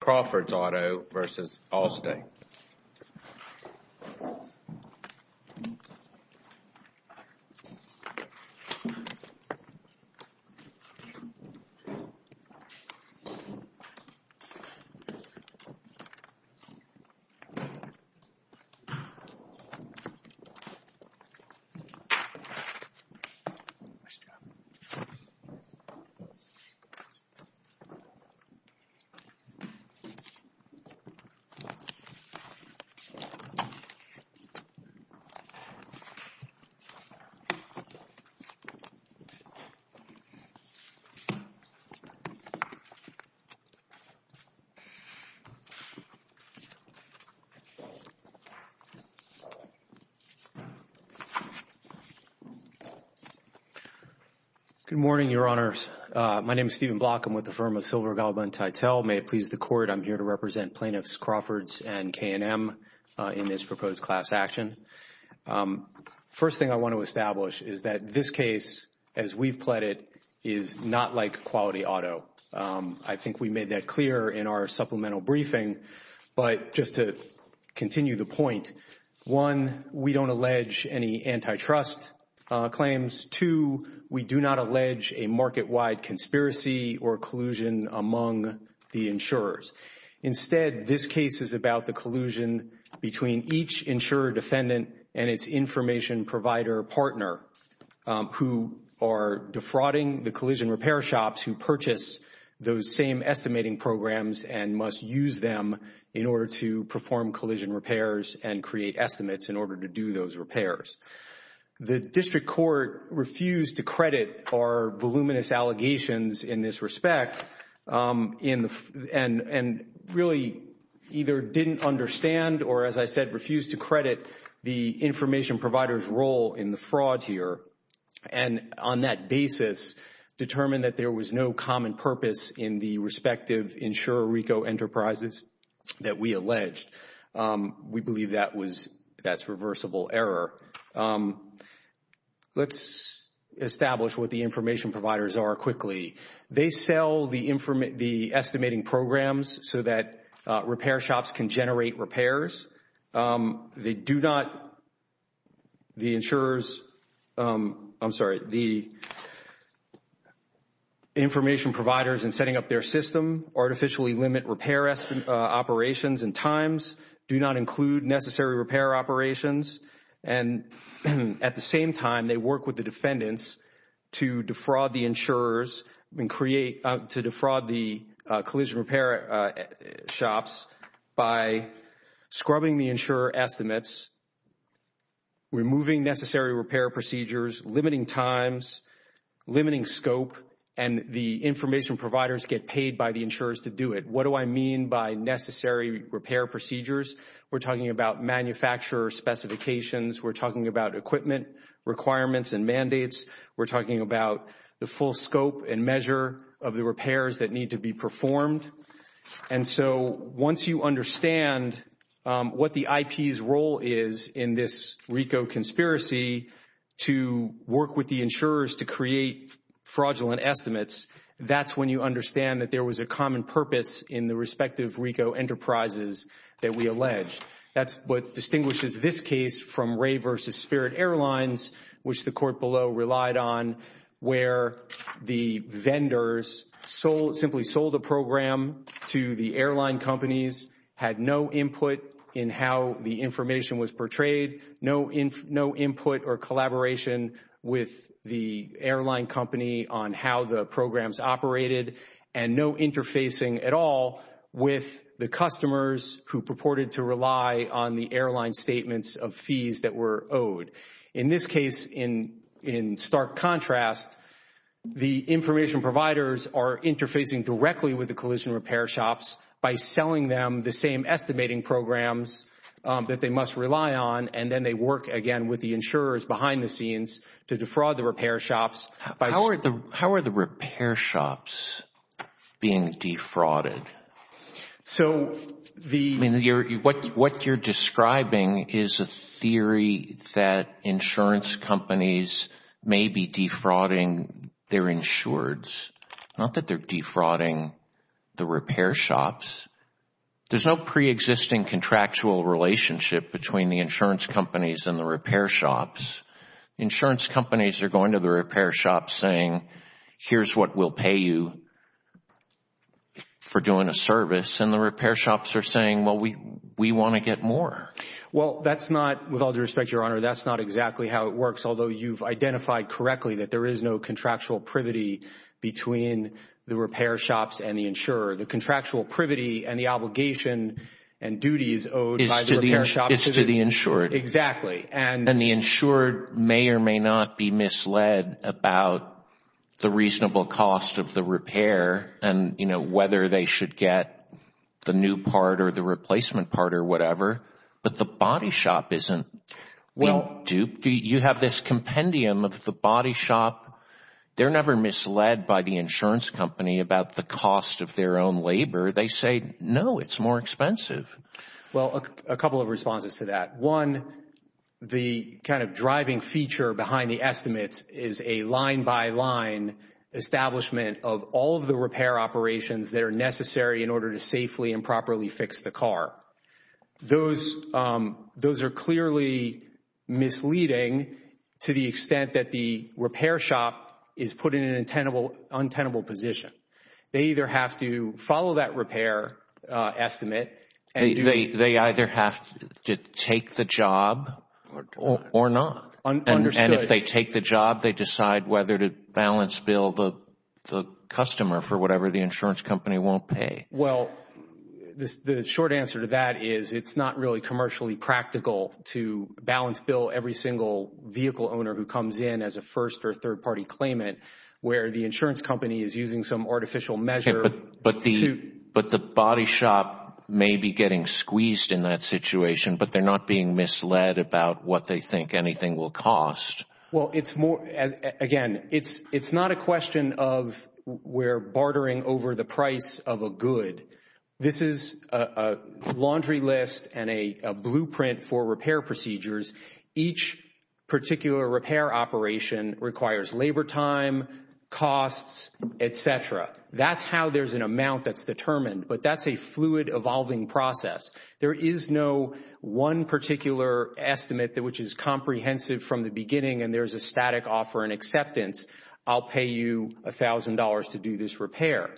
Crawford's Auto vs. Allstate Good morning, Your Honors. My name is Stephen Block. I'm with the firm of Silver, Galba and Titel. May it please the Court, I'm here to represent Plaintiffs Crawford's and K&M in this proposed class action. First thing I want to establish is that this case, as we've pled it, is not like quality auto. I think we made that clear in our supplemental briefing. But just to continue the point, one, we don't allege any antitrust claims. Two, we do not allege a market-wide conspiracy or collusion among the insurers. Instead, this case is about the collusion between each insurer defendant and its information provider partner who are defrauding the collision repair shops who purchase those same estimating programs and must use them in order to perform collision repairs and create estimates in order to do those repairs. The District Court refused to credit our voluminous allegations in this respect and really either didn't understand or, as I said, refused to credit the information provider's role in the fraud here and, on that basis, determined that there was no common purpose in the respective insurer RICO enterprises that we alleged. We believe that was, that's reversible error. Let's establish what the information providers are quickly. They sell the estimating programs so that repair shops can generate repairs. They do not, the insurers, I'm sorry, the information providers in setting up their system artificially limit repair operations and times, do not include necessary repair operations, and at the same time, they work with the defendants to defraud the insurers and create, to defraud the collision repair shops by scrubbing the insurer estimates, removing necessary repair procedures, limiting times, limiting scope, and the information providers get paid by the insurers to do it. What do I mean by necessary repair procedures? We're talking about manufacturer specifications. We're talking about equipment requirements and mandates. We're talking about the full scope and measure of the repairs that need to be performed. And so once you understand what the IP's role is in this RICO conspiracy to work with the RICO, then you understand that there was a common purpose in the respective RICO enterprises that we alleged. That's what distinguishes this case from Ray v. Spirit Airlines, which the court below relied on, where the vendors simply sold a program to the airline companies, had no input in how the information was portrayed, no input or collaboration with the airline company on how the programs operated, and no interfacing at all with the customers who purported to rely on the airline statements of fees that were owed. In this case, in stark contrast, the information providers are interfacing directly with the collision repair shops by selling them the same estimating programs that they must rely on, and then they work again with the insurers behind the scenes to defraud the repair shops How are the repair shops being defrauded? What you're describing is a theory that insurance companies may be defrauding their insureds. Not that they're defrauding the repair shops. There's no pre-existing contractual relationship between the insurance companies and the repair shops. Insurance companies are going to the repair shops saying, here's what we'll pay you for doing a service, and the repair shops are saying, well, we want to get more. That's not, with all due respect, Your Honor, that's not exactly how it works, although you've identified correctly that there is no contractual privity between the repair shops and the insurer. The contractual privity and the obligation and duties owed by the repair shops is to the insured. Exactly. And the insured may or may not be misled about the reasonable cost of the repair and whether they should get the new part or the replacement part or whatever, but the body shop isn't. You have this compendium of the body shop. They're never misled by the insurance company about the cost of their own labor. They say, no, it's more expensive. Well, a couple of responses to that. One, the kind of driving feature behind the estimates is a line-by-line establishment of all of the repair operations that are necessary in order to safely and properly fix the car. Those are clearly misleading to the extent that the repair shop is put in an untenable position. They either have to follow that repair estimate. They either have to take the job or not. Understood. And if they take the job, they decide whether to balance bill the customer for whatever the insurance company won't pay. Well, the short answer to that is it's not really commercially practical to balance bill every single vehicle owner who comes in as a first or third party claimant where the insurance company is using some artificial measure. But the body shop may be getting squeezed in that situation, but they're not being misled about what they think anything will cost. Well, again, it's not a question of we're bartering over the price of a good. This is a laundry list and a blueprint for repair procedures. Each particular repair operation requires labor time, costs, et cetera. That's how there's an amount that's determined, but that's a fluid evolving process. There is no one particular estimate which is comprehensive from the beginning and there's a static offer and acceptance, I'll pay you $1,000 to do this repair.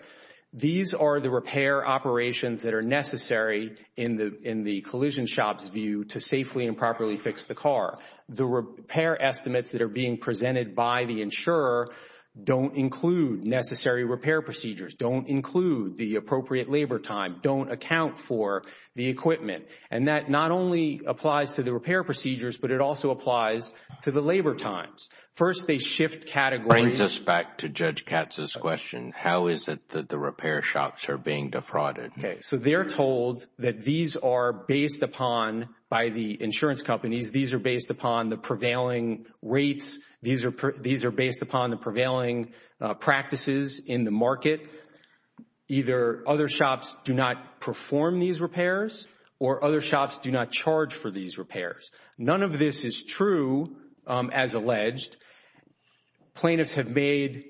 These are the repair operations that are necessary in the collision shop's view to safely and properly fix the car. The repair estimates that are being presented by the insurer don't include necessary repair procedures, don't include the appropriate labor time, don't account for the equipment. And that not only applies to the repair procedures, but it also applies to the labor times. First they shift categories. It brings us back to Judge Katz's question. How is it that the repair shops are being defrauded? So they're told that these are based upon by the insurance companies. These are based upon the prevailing rates. These are based upon the prevailing practices in the market. Either other shops do not perform these repairs or other shops do not charge for these repairs. None of this is true as alleged. Plaintiffs have made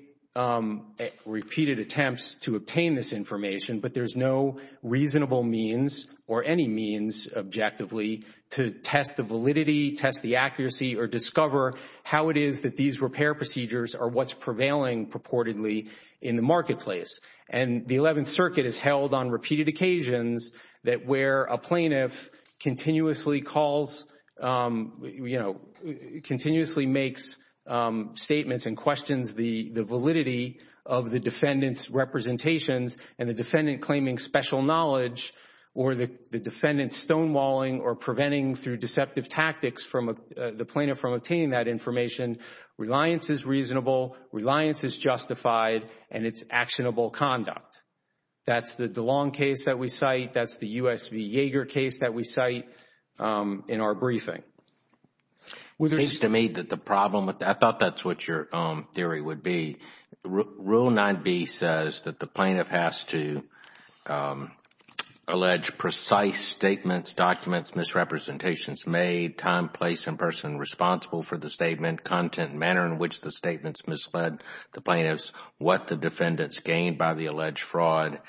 repeated attempts to obtain this information, but there's no reasonable means or any means objectively to test the validity, test the accuracy, or discover how it is that these repair procedures are what's prevailing purportedly in the marketplace. And the Eleventh Circuit has held on repeated occasions that where a plaintiff continuously calls, you know, continuously makes statements and questions the validity of the defendant's factual knowledge or the defendant's stonewalling or preventing through deceptive tactics the plaintiff from obtaining that information, reliance is reasonable, reliance is justified, and it's actionable conduct. That's the DeLong case that we cite. That's the U.S. v. Yeager case that we cite in our briefing. It seems to me that the problem with that, I thought that's what your theory would be. Rule 9B says that the plaintiff has to allege precise statements, documents, misrepresentations made, time, place, and person responsible for the statement, content, manner in which the statement is misled, the plaintiff's what the defendant's gained by the alleged fraud.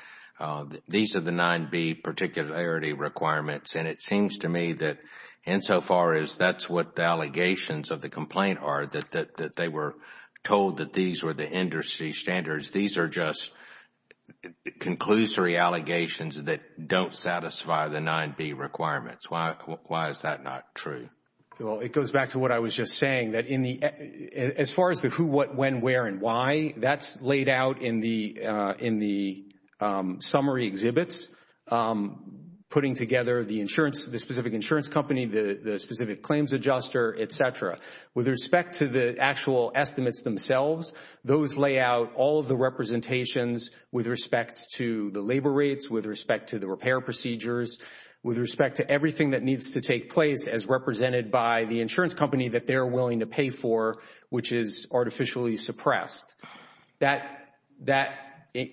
These are the 9B particularity requirements and it seems to me that insofar as that's what the allegations of the complaint are, that they were told that these were the industry standards, these are just conclusory allegations that don't satisfy the 9B requirements. Why is that not true? Well, it goes back to what I was just saying that as far as the who, what, when, where and why, that's laid out in the summary exhibits, putting together the insurance, the specific claims adjuster, et cetera. With respect to the actual estimates themselves, those lay out all of the representations with respect to the labor rates, with respect to the repair procedures, with respect to everything that needs to take place as represented by the insurance company that they're willing to pay for, which is artificially suppressed. That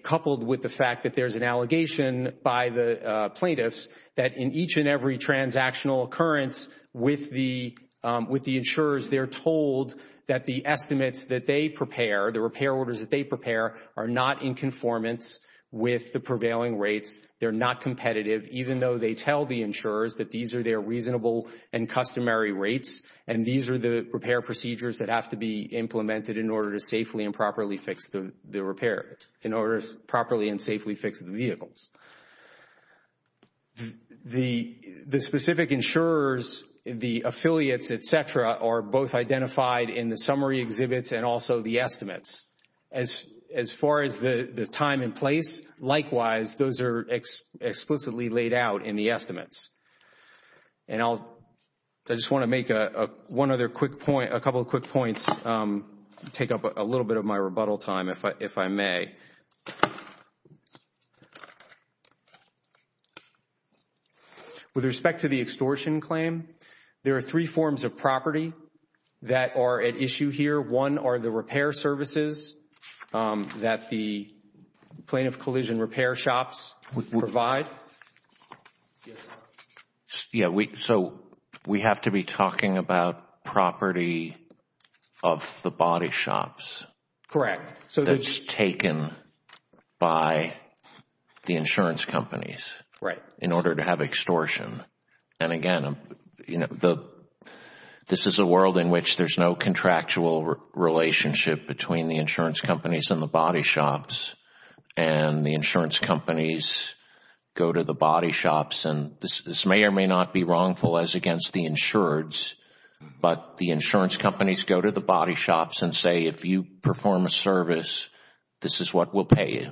coupled with the fact that there's an allegation by the plaintiffs that in each and every transactional occurrence with the insurers, they're told that the estimates that they prepare, the repair orders that they prepare, are not in conformance with the prevailing rates, they're not competitive, even though they tell the insurers that these are their reasonable and customary rates and these are the repair procedures that have to be implemented in order to safely and properly fix the repair, in order to properly and safely fix the vehicles. The specific insurers, the affiliates, et cetera, are both identified in the summary exhibits and also the estimates. As far as the time and place, likewise, those are explicitly laid out in the estimates. And I'll, I just want to make one other quick point, a couple of quick points, take up a rebuttal time if I may. With respect to the extortion claim, there are three forms of property that are at issue here. One are the repair services that the plaintiff collision repair shops provide. Yeah, so we have to be talking about property of the body shops. Correct. That's taken by the insurance companies. Right. In order to have extortion. And again, you know, this is a world in which there's no contractual relationship between the insurance companies and the body shops and the insurance companies go to the body shops. And this may or may not be wrongful as against the insureds, but the insurance companies go to the body shops and say, if you perform a service, this is what we'll pay you.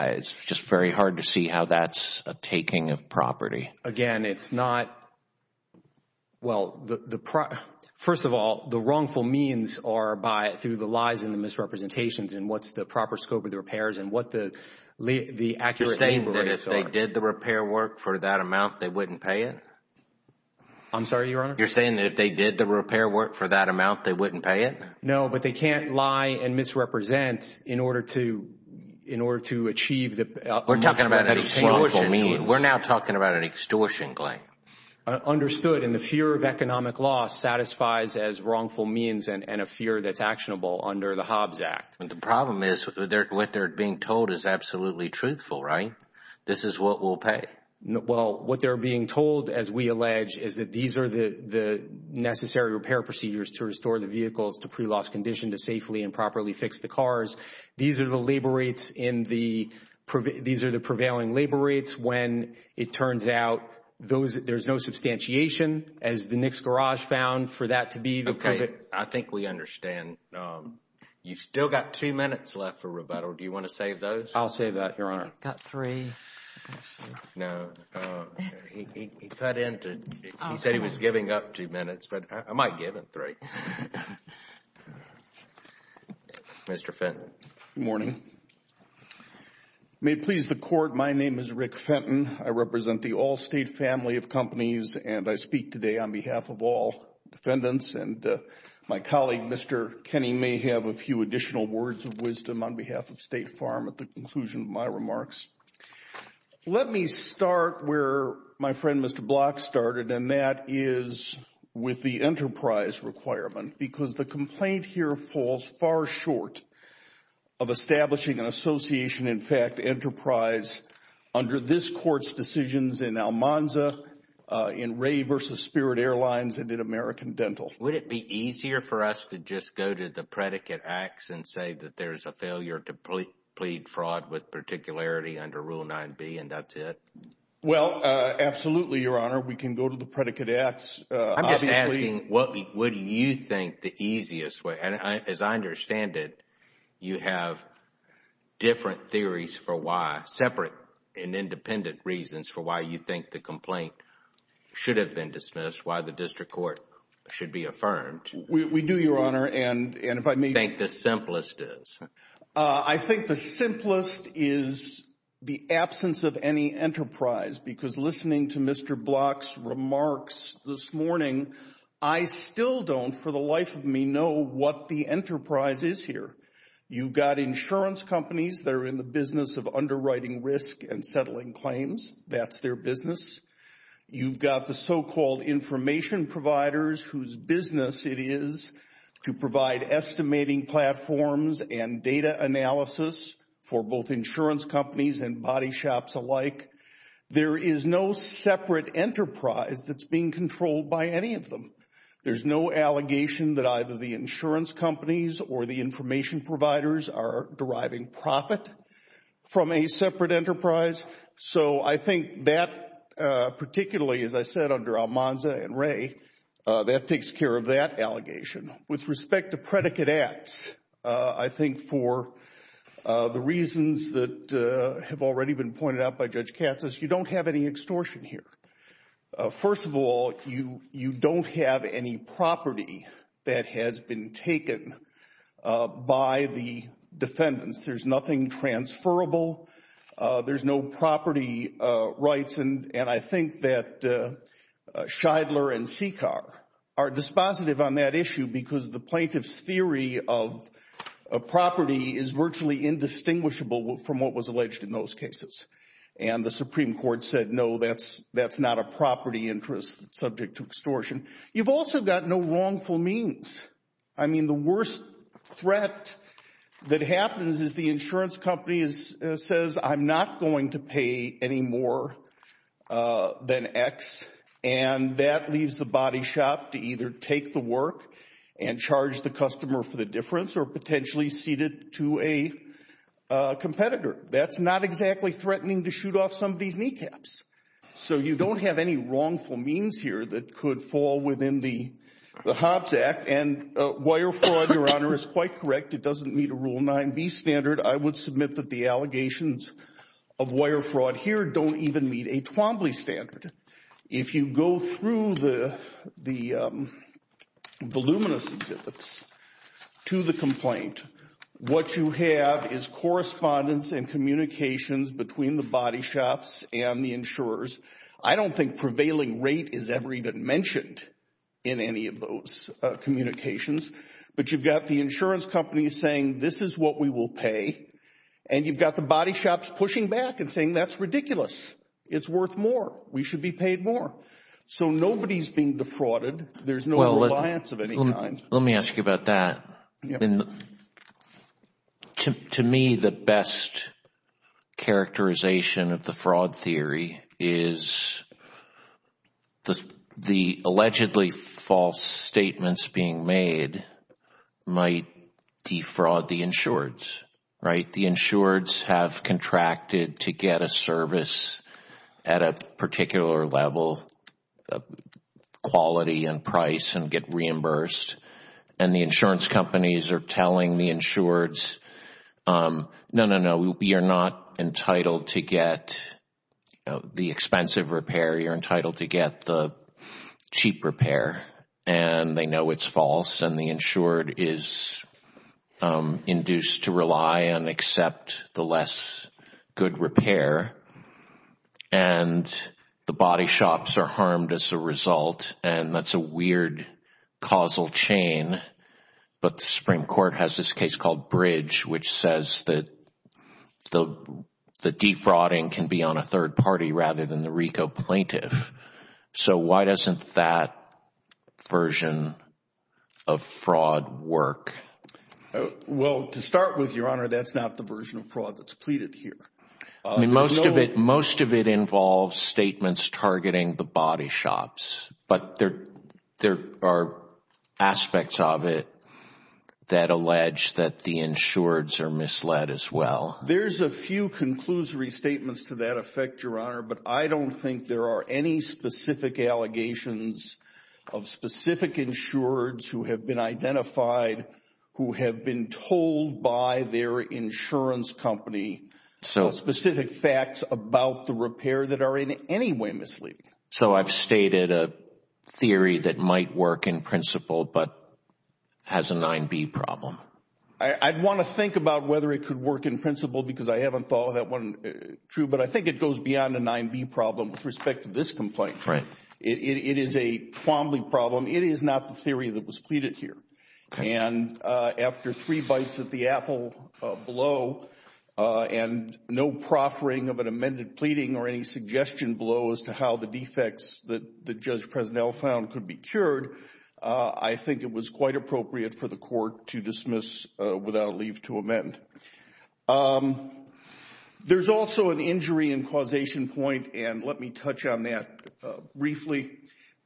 It's just very hard to see how that's a taking of property. Again, it's not, well, the, first of all, the wrongful means are by, through the lies and the misrepresentations and what's the proper scope of the repairs and what the accurate name for it is. You're saying that if they did the repair work for that amount, they wouldn't pay it? I'm sorry, Your Honor? You're saying that if they did the repair work for that amount, they wouldn't pay it? No, but they can't lie and misrepresent in order to achieve the extortion. We're talking about an extortion. We're now talking about an extortion claim. Understood, and the fear of economic loss satisfies as wrongful means and a fear that's a Hobbs Act. But the problem is, what they're being told is absolutely truthful, right? This is what we'll pay. Well, what they're being told, as we allege, is that these are the necessary repair procedures to restore the vehicles to pre-loss condition to safely and properly fix the cars. These are the labor rates in the, these are the prevailing labor rates when it turns out those, there's no substantiation, as the Knicks Garage found, for that to be the perfect. I think we understand. You've still got two minutes left for rebuttal. Do you want to save those? I'll save that, Your Honor. I've got three. No. He cut in to, he said he was giving up two minutes, but I might give him three. Mr. Fenton. Good morning. May it please the Court, my name is Rick Fenton. I represent the Allstate family of companies and I speak today on behalf of all defendants and my colleague, Mr. Kenney, may have a few additional words of wisdom on behalf of State Farm at the conclusion of my remarks. Let me start where my friend, Mr. Block, started and that is with the enterprise requirement because the complaint here falls far short of establishing an association, in fact, enterprise under this Court's decisions in Almanza, in Ray versus Spirit Airlines, and in American Dental. Would it be easier for us to just go to the predicate acts and say that there's a failure to plead fraud with particularity under Rule 9B and that's it? Well, absolutely, Your Honor. We can go to the predicate acts. I'm just asking what would you think the easiest way, and as I understand it, you have different theories for why, separate and independent reasons for why you think the complaint should have been dismissed, why the district court should be affirmed. We do, Your Honor. And if I may- Think the simplest is? I think the simplest is the absence of any enterprise because listening to Mr. Block's remarks this morning, I still don't, for the life of me, know what the enterprise is here. You've got insurance companies that are in the business of underwriting risk and settling claims. That's their business. You've got the so-called information providers whose business it is to provide estimating platforms and data analysis for both insurance companies and body shops alike. There is no separate enterprise that's being controlled by any of them. There's no allegation that either the insurance companies or the information providers are deriving profit from a separate enterprise. So I think that, particularly, as I said, under Almanza and Wray, that takes care of that allegation. With respect to predicate acts, I think for the reasons that have already been pointed out by Judge Katz, you don't have any extortion here. First of all, you don't have any property that has been taken by the defendants. There's nothing transferable. There's no property rights. And I think that Shidler and Seekar are dispositive on that issue because the plaintiff's theory of property is virtually indistinguishable from what was alleged in those cases. And the Supreme Court said, no, that's not a property interest subject to extortion. You've also got no wrongful means. I mean, the worst threat that happens is the insurance company says, I'm not going to pay any more than X. And that leaves the body shop to either take the work and charge the customer for the difference or potentially cede it to a competitor. That's not exactly threatening to shoot off somebody's kneecaps. So you don't have any wrongful means here that could fall within the Hobbs Act. And wire fraud, Your Honor, is quite correct. It doesn't meet a Rule 9b standard. I would submit that the allegations of wire fraud here don't even meet a Twombly standard. If you go through the luminous exhibits to the complaint, what you have is correspondence and communications between the body shops and the insurers. I don't think prevailing rate is ever even mentioned in any of those communications. But you've got the insurance companies saying, this is what we will pay. And you've got the body shops pushing back and saying, that's ridiculous. It's worth more. We should be paid more. So nobody's being defrauded. There's no reliance of any kind. Let me ask you about that. To me, the best characterization of the fraud theory is the allegedly false statements being made might defraud the insureds, right? The insureds have contracted to get a service at a particular level of quality and price and get reimbursed. And the insurance companies are telling the insureds, no, no, no, you're not entitled to get the expensive repair. You're entitled to get the cheap repair. And they know it's false. And the insured is induced to rely and accept the less good repair. And the body shops are harmed as a result. And that's a weird causal chain. But the Supreme Court has this case called Bridge, which says that defrauding can be on a third party rather than the RICO plaintiff. So why doesn't that version of fraud work? Well, to start with, Your Honor, that's not the version of fraud that's pleaded here. Most of it involves statements targeting the body shops. But there are aspects of it that allege that the insureds are misled as well. There's a few conclusory statements to that effect, Your Honor, but I don't think there are any specific allegations of specific insureds who have been identified, who have been told by their insurance company specific facts about the repair that are in any way misleading. So I've stated a theory that might work in principle but has a 9B problem. I'd want to think about whether it could work in principle because I haven't thought of that one true, but I think it goes beyond a 9B problem with respect to this complaint. It is a Twombly problem. It is not the theory that was pleaded here. And after three bites at the apple below and no proffering of an amended pleading or any suggestion below as to how the defects that Judge Presnell found could be cured, I think it was quite appropriate for the court to dismiss without leave to amend. There's also an injury and causation point, and let me touch on that briefly.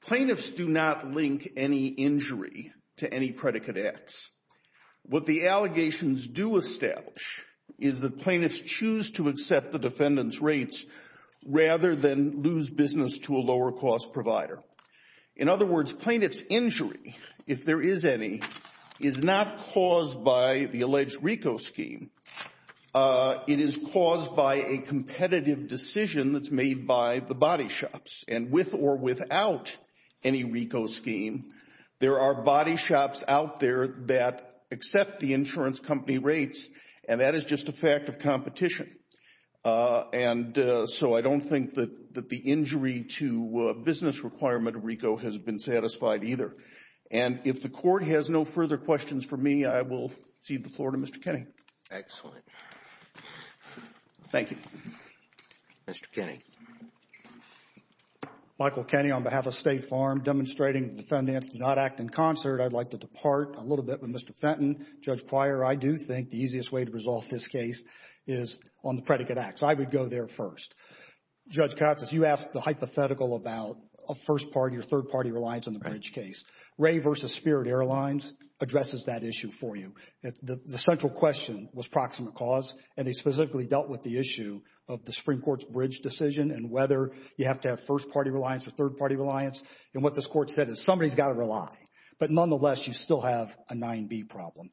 Plaintiffs do not link any injury to any predicate X. What the allegations do establish is that plaintiffs choose to accept the defendant's rates rather than lose business to a lower cost provider. In other words, plaintiff's injury, if there is any, is not caused by the alleged RICO scheme. It is caused by a competitive decision that's made by the body shops. And with or without any RICO scheme, there are body shops out there that accept the insurance company rates, and that is just a fact of competition. And so I don't think that the injury to business requirement of RICO has been satisfied either. And if the court has no further questions for me, I will cede the floor to Mr. Kenney. Excellent. Thank you. Mr. Kenney. Michael Kenney on behalf of State Farm, demonstrating the defendants do not act in concert. I'd like to depart a little bit with Mr. Fenton. Judge Pryor, I do think the easiest way to resolve this case is on the predicate X. I would go there first. Judge Katsas, you asked the hypothetical about a first party or third party reliance on the bridge case. Ray v. Spirit Airlines addresses that issue for you. The central question was proximate cause, and they specifically dealt with the issue of the Supreme Court's bridge decision and whether you have to have first party reliance or third party reliance. And what this court said is somebody's got to rely. But nonetheless, you still have a 9B problem.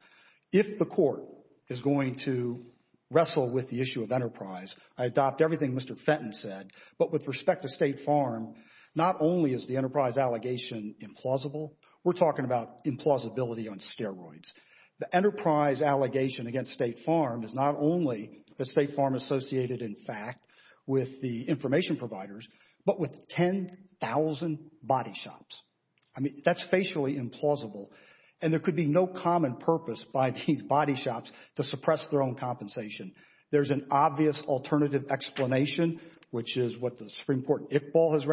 If the court is going to wrestle with the issue of enterprise, I adopt everything Mr. Fenton said. But with respect to State Farm, not only is the enterprise allegation implausible, we're talking about implausibility on steroids. The enterprise allegation against State Farm is not only the State Farm associated in fact with the information providers, but with 10,000 body shops. I mean, that's facially implausible. And there could be no common purpose by these body shops to suppress their own compensation. There's an obvious alternative explanation, which is what the Supreme Court in Iqbal has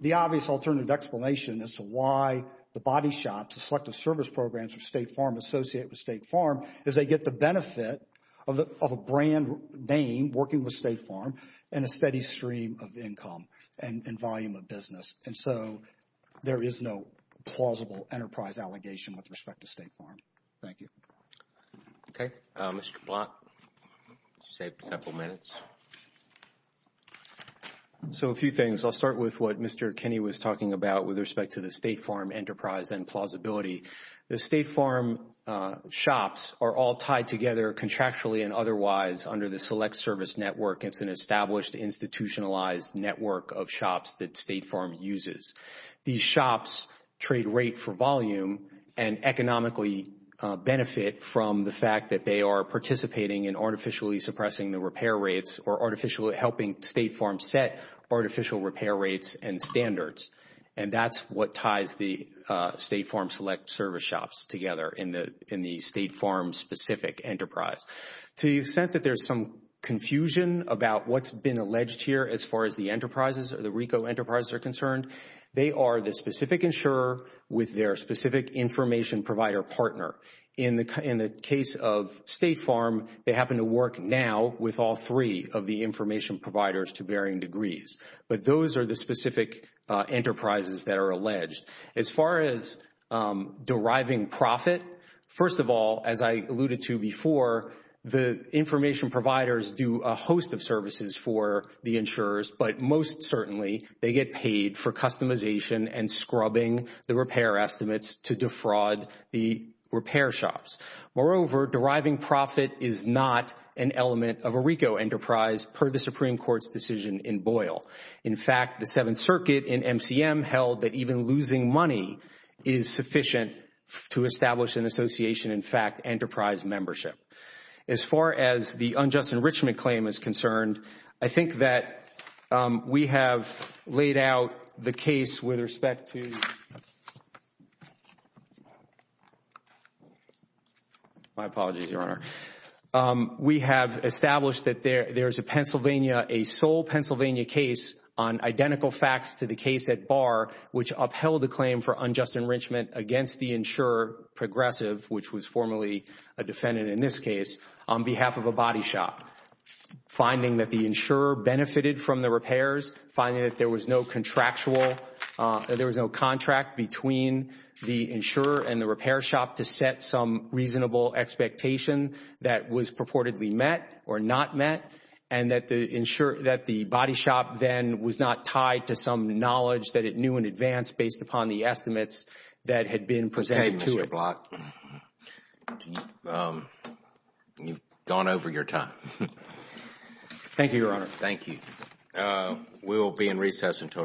The obvious alternative explanation as to why the body shops, the selective service programs of State Farm associate with State Farm is they get the benefit of a brand name working with State Farm and a steady stream of income and volume of business. And so there is no plausible enterprise allegation with respect to State Farm. Thank you. Okay. Mr. Block, you saved a couple minutes. So a few things. I'll start with what Mr. Kinney was talking about with respect to the State Farm enterprise and plausibility. The State Farm shops are all tied together contractually and otherwise under the select service network. It's an established institutionalized network of shops that State Farm uses. These shops trade rate for volume and economically benefit from the fact that they are participating in artificially suppressing the repair rates or artificially helping State Farm set artificial repair rates and standards. And that's what ties the State Farm select service shops together in the State Farm specific enterprise. So you've said that there's some confusion about what's been alleged here as far as the enterprises or the RICO enterprises are concerned. They are the specific insurer with their specific information provider partner. In the case of State Farm, they happen to work now with all three of the information providers to varying degrees. But those are the specific enterprises that are alleged. As far as deriving profit, first of all, as I alluded to before, the information providers do a host of services for the insurers, but most certainly they get paid for customization and scrubbing the repair estimates to defraud the repair shops. Moreover, deriving profit is not an element of a RICO enterprise per the Supreme Court's decision in Boyle. In fact, the Seventh Circuit in MCM held that even losing money is sufficient to establish an association, in fact, enterprise membership. As far as the unjust enrichment claim is concerned, I think that we have laid out the case with respect to my apologies, Your Honor. We have established that there is a Pennsylvania, a sole Pennsylvania case on identical facts to the case at Barr, which upheld the claim for unjust enrichment against the insurer Progressive, which was formerly a defendant in this case, on behalf of a body shop, finding that the insurer benefited from the repairs, finding that there was no contractual, there that was purportedly met or not met, and that the body shop then was not tied to some knowledge that it knew in advance based upon the estimates that had been presented to it. Okay, Mr. Block, you have gone over your time. Thank you, Your Honor. Thank you. We will be in recess until tomorrow.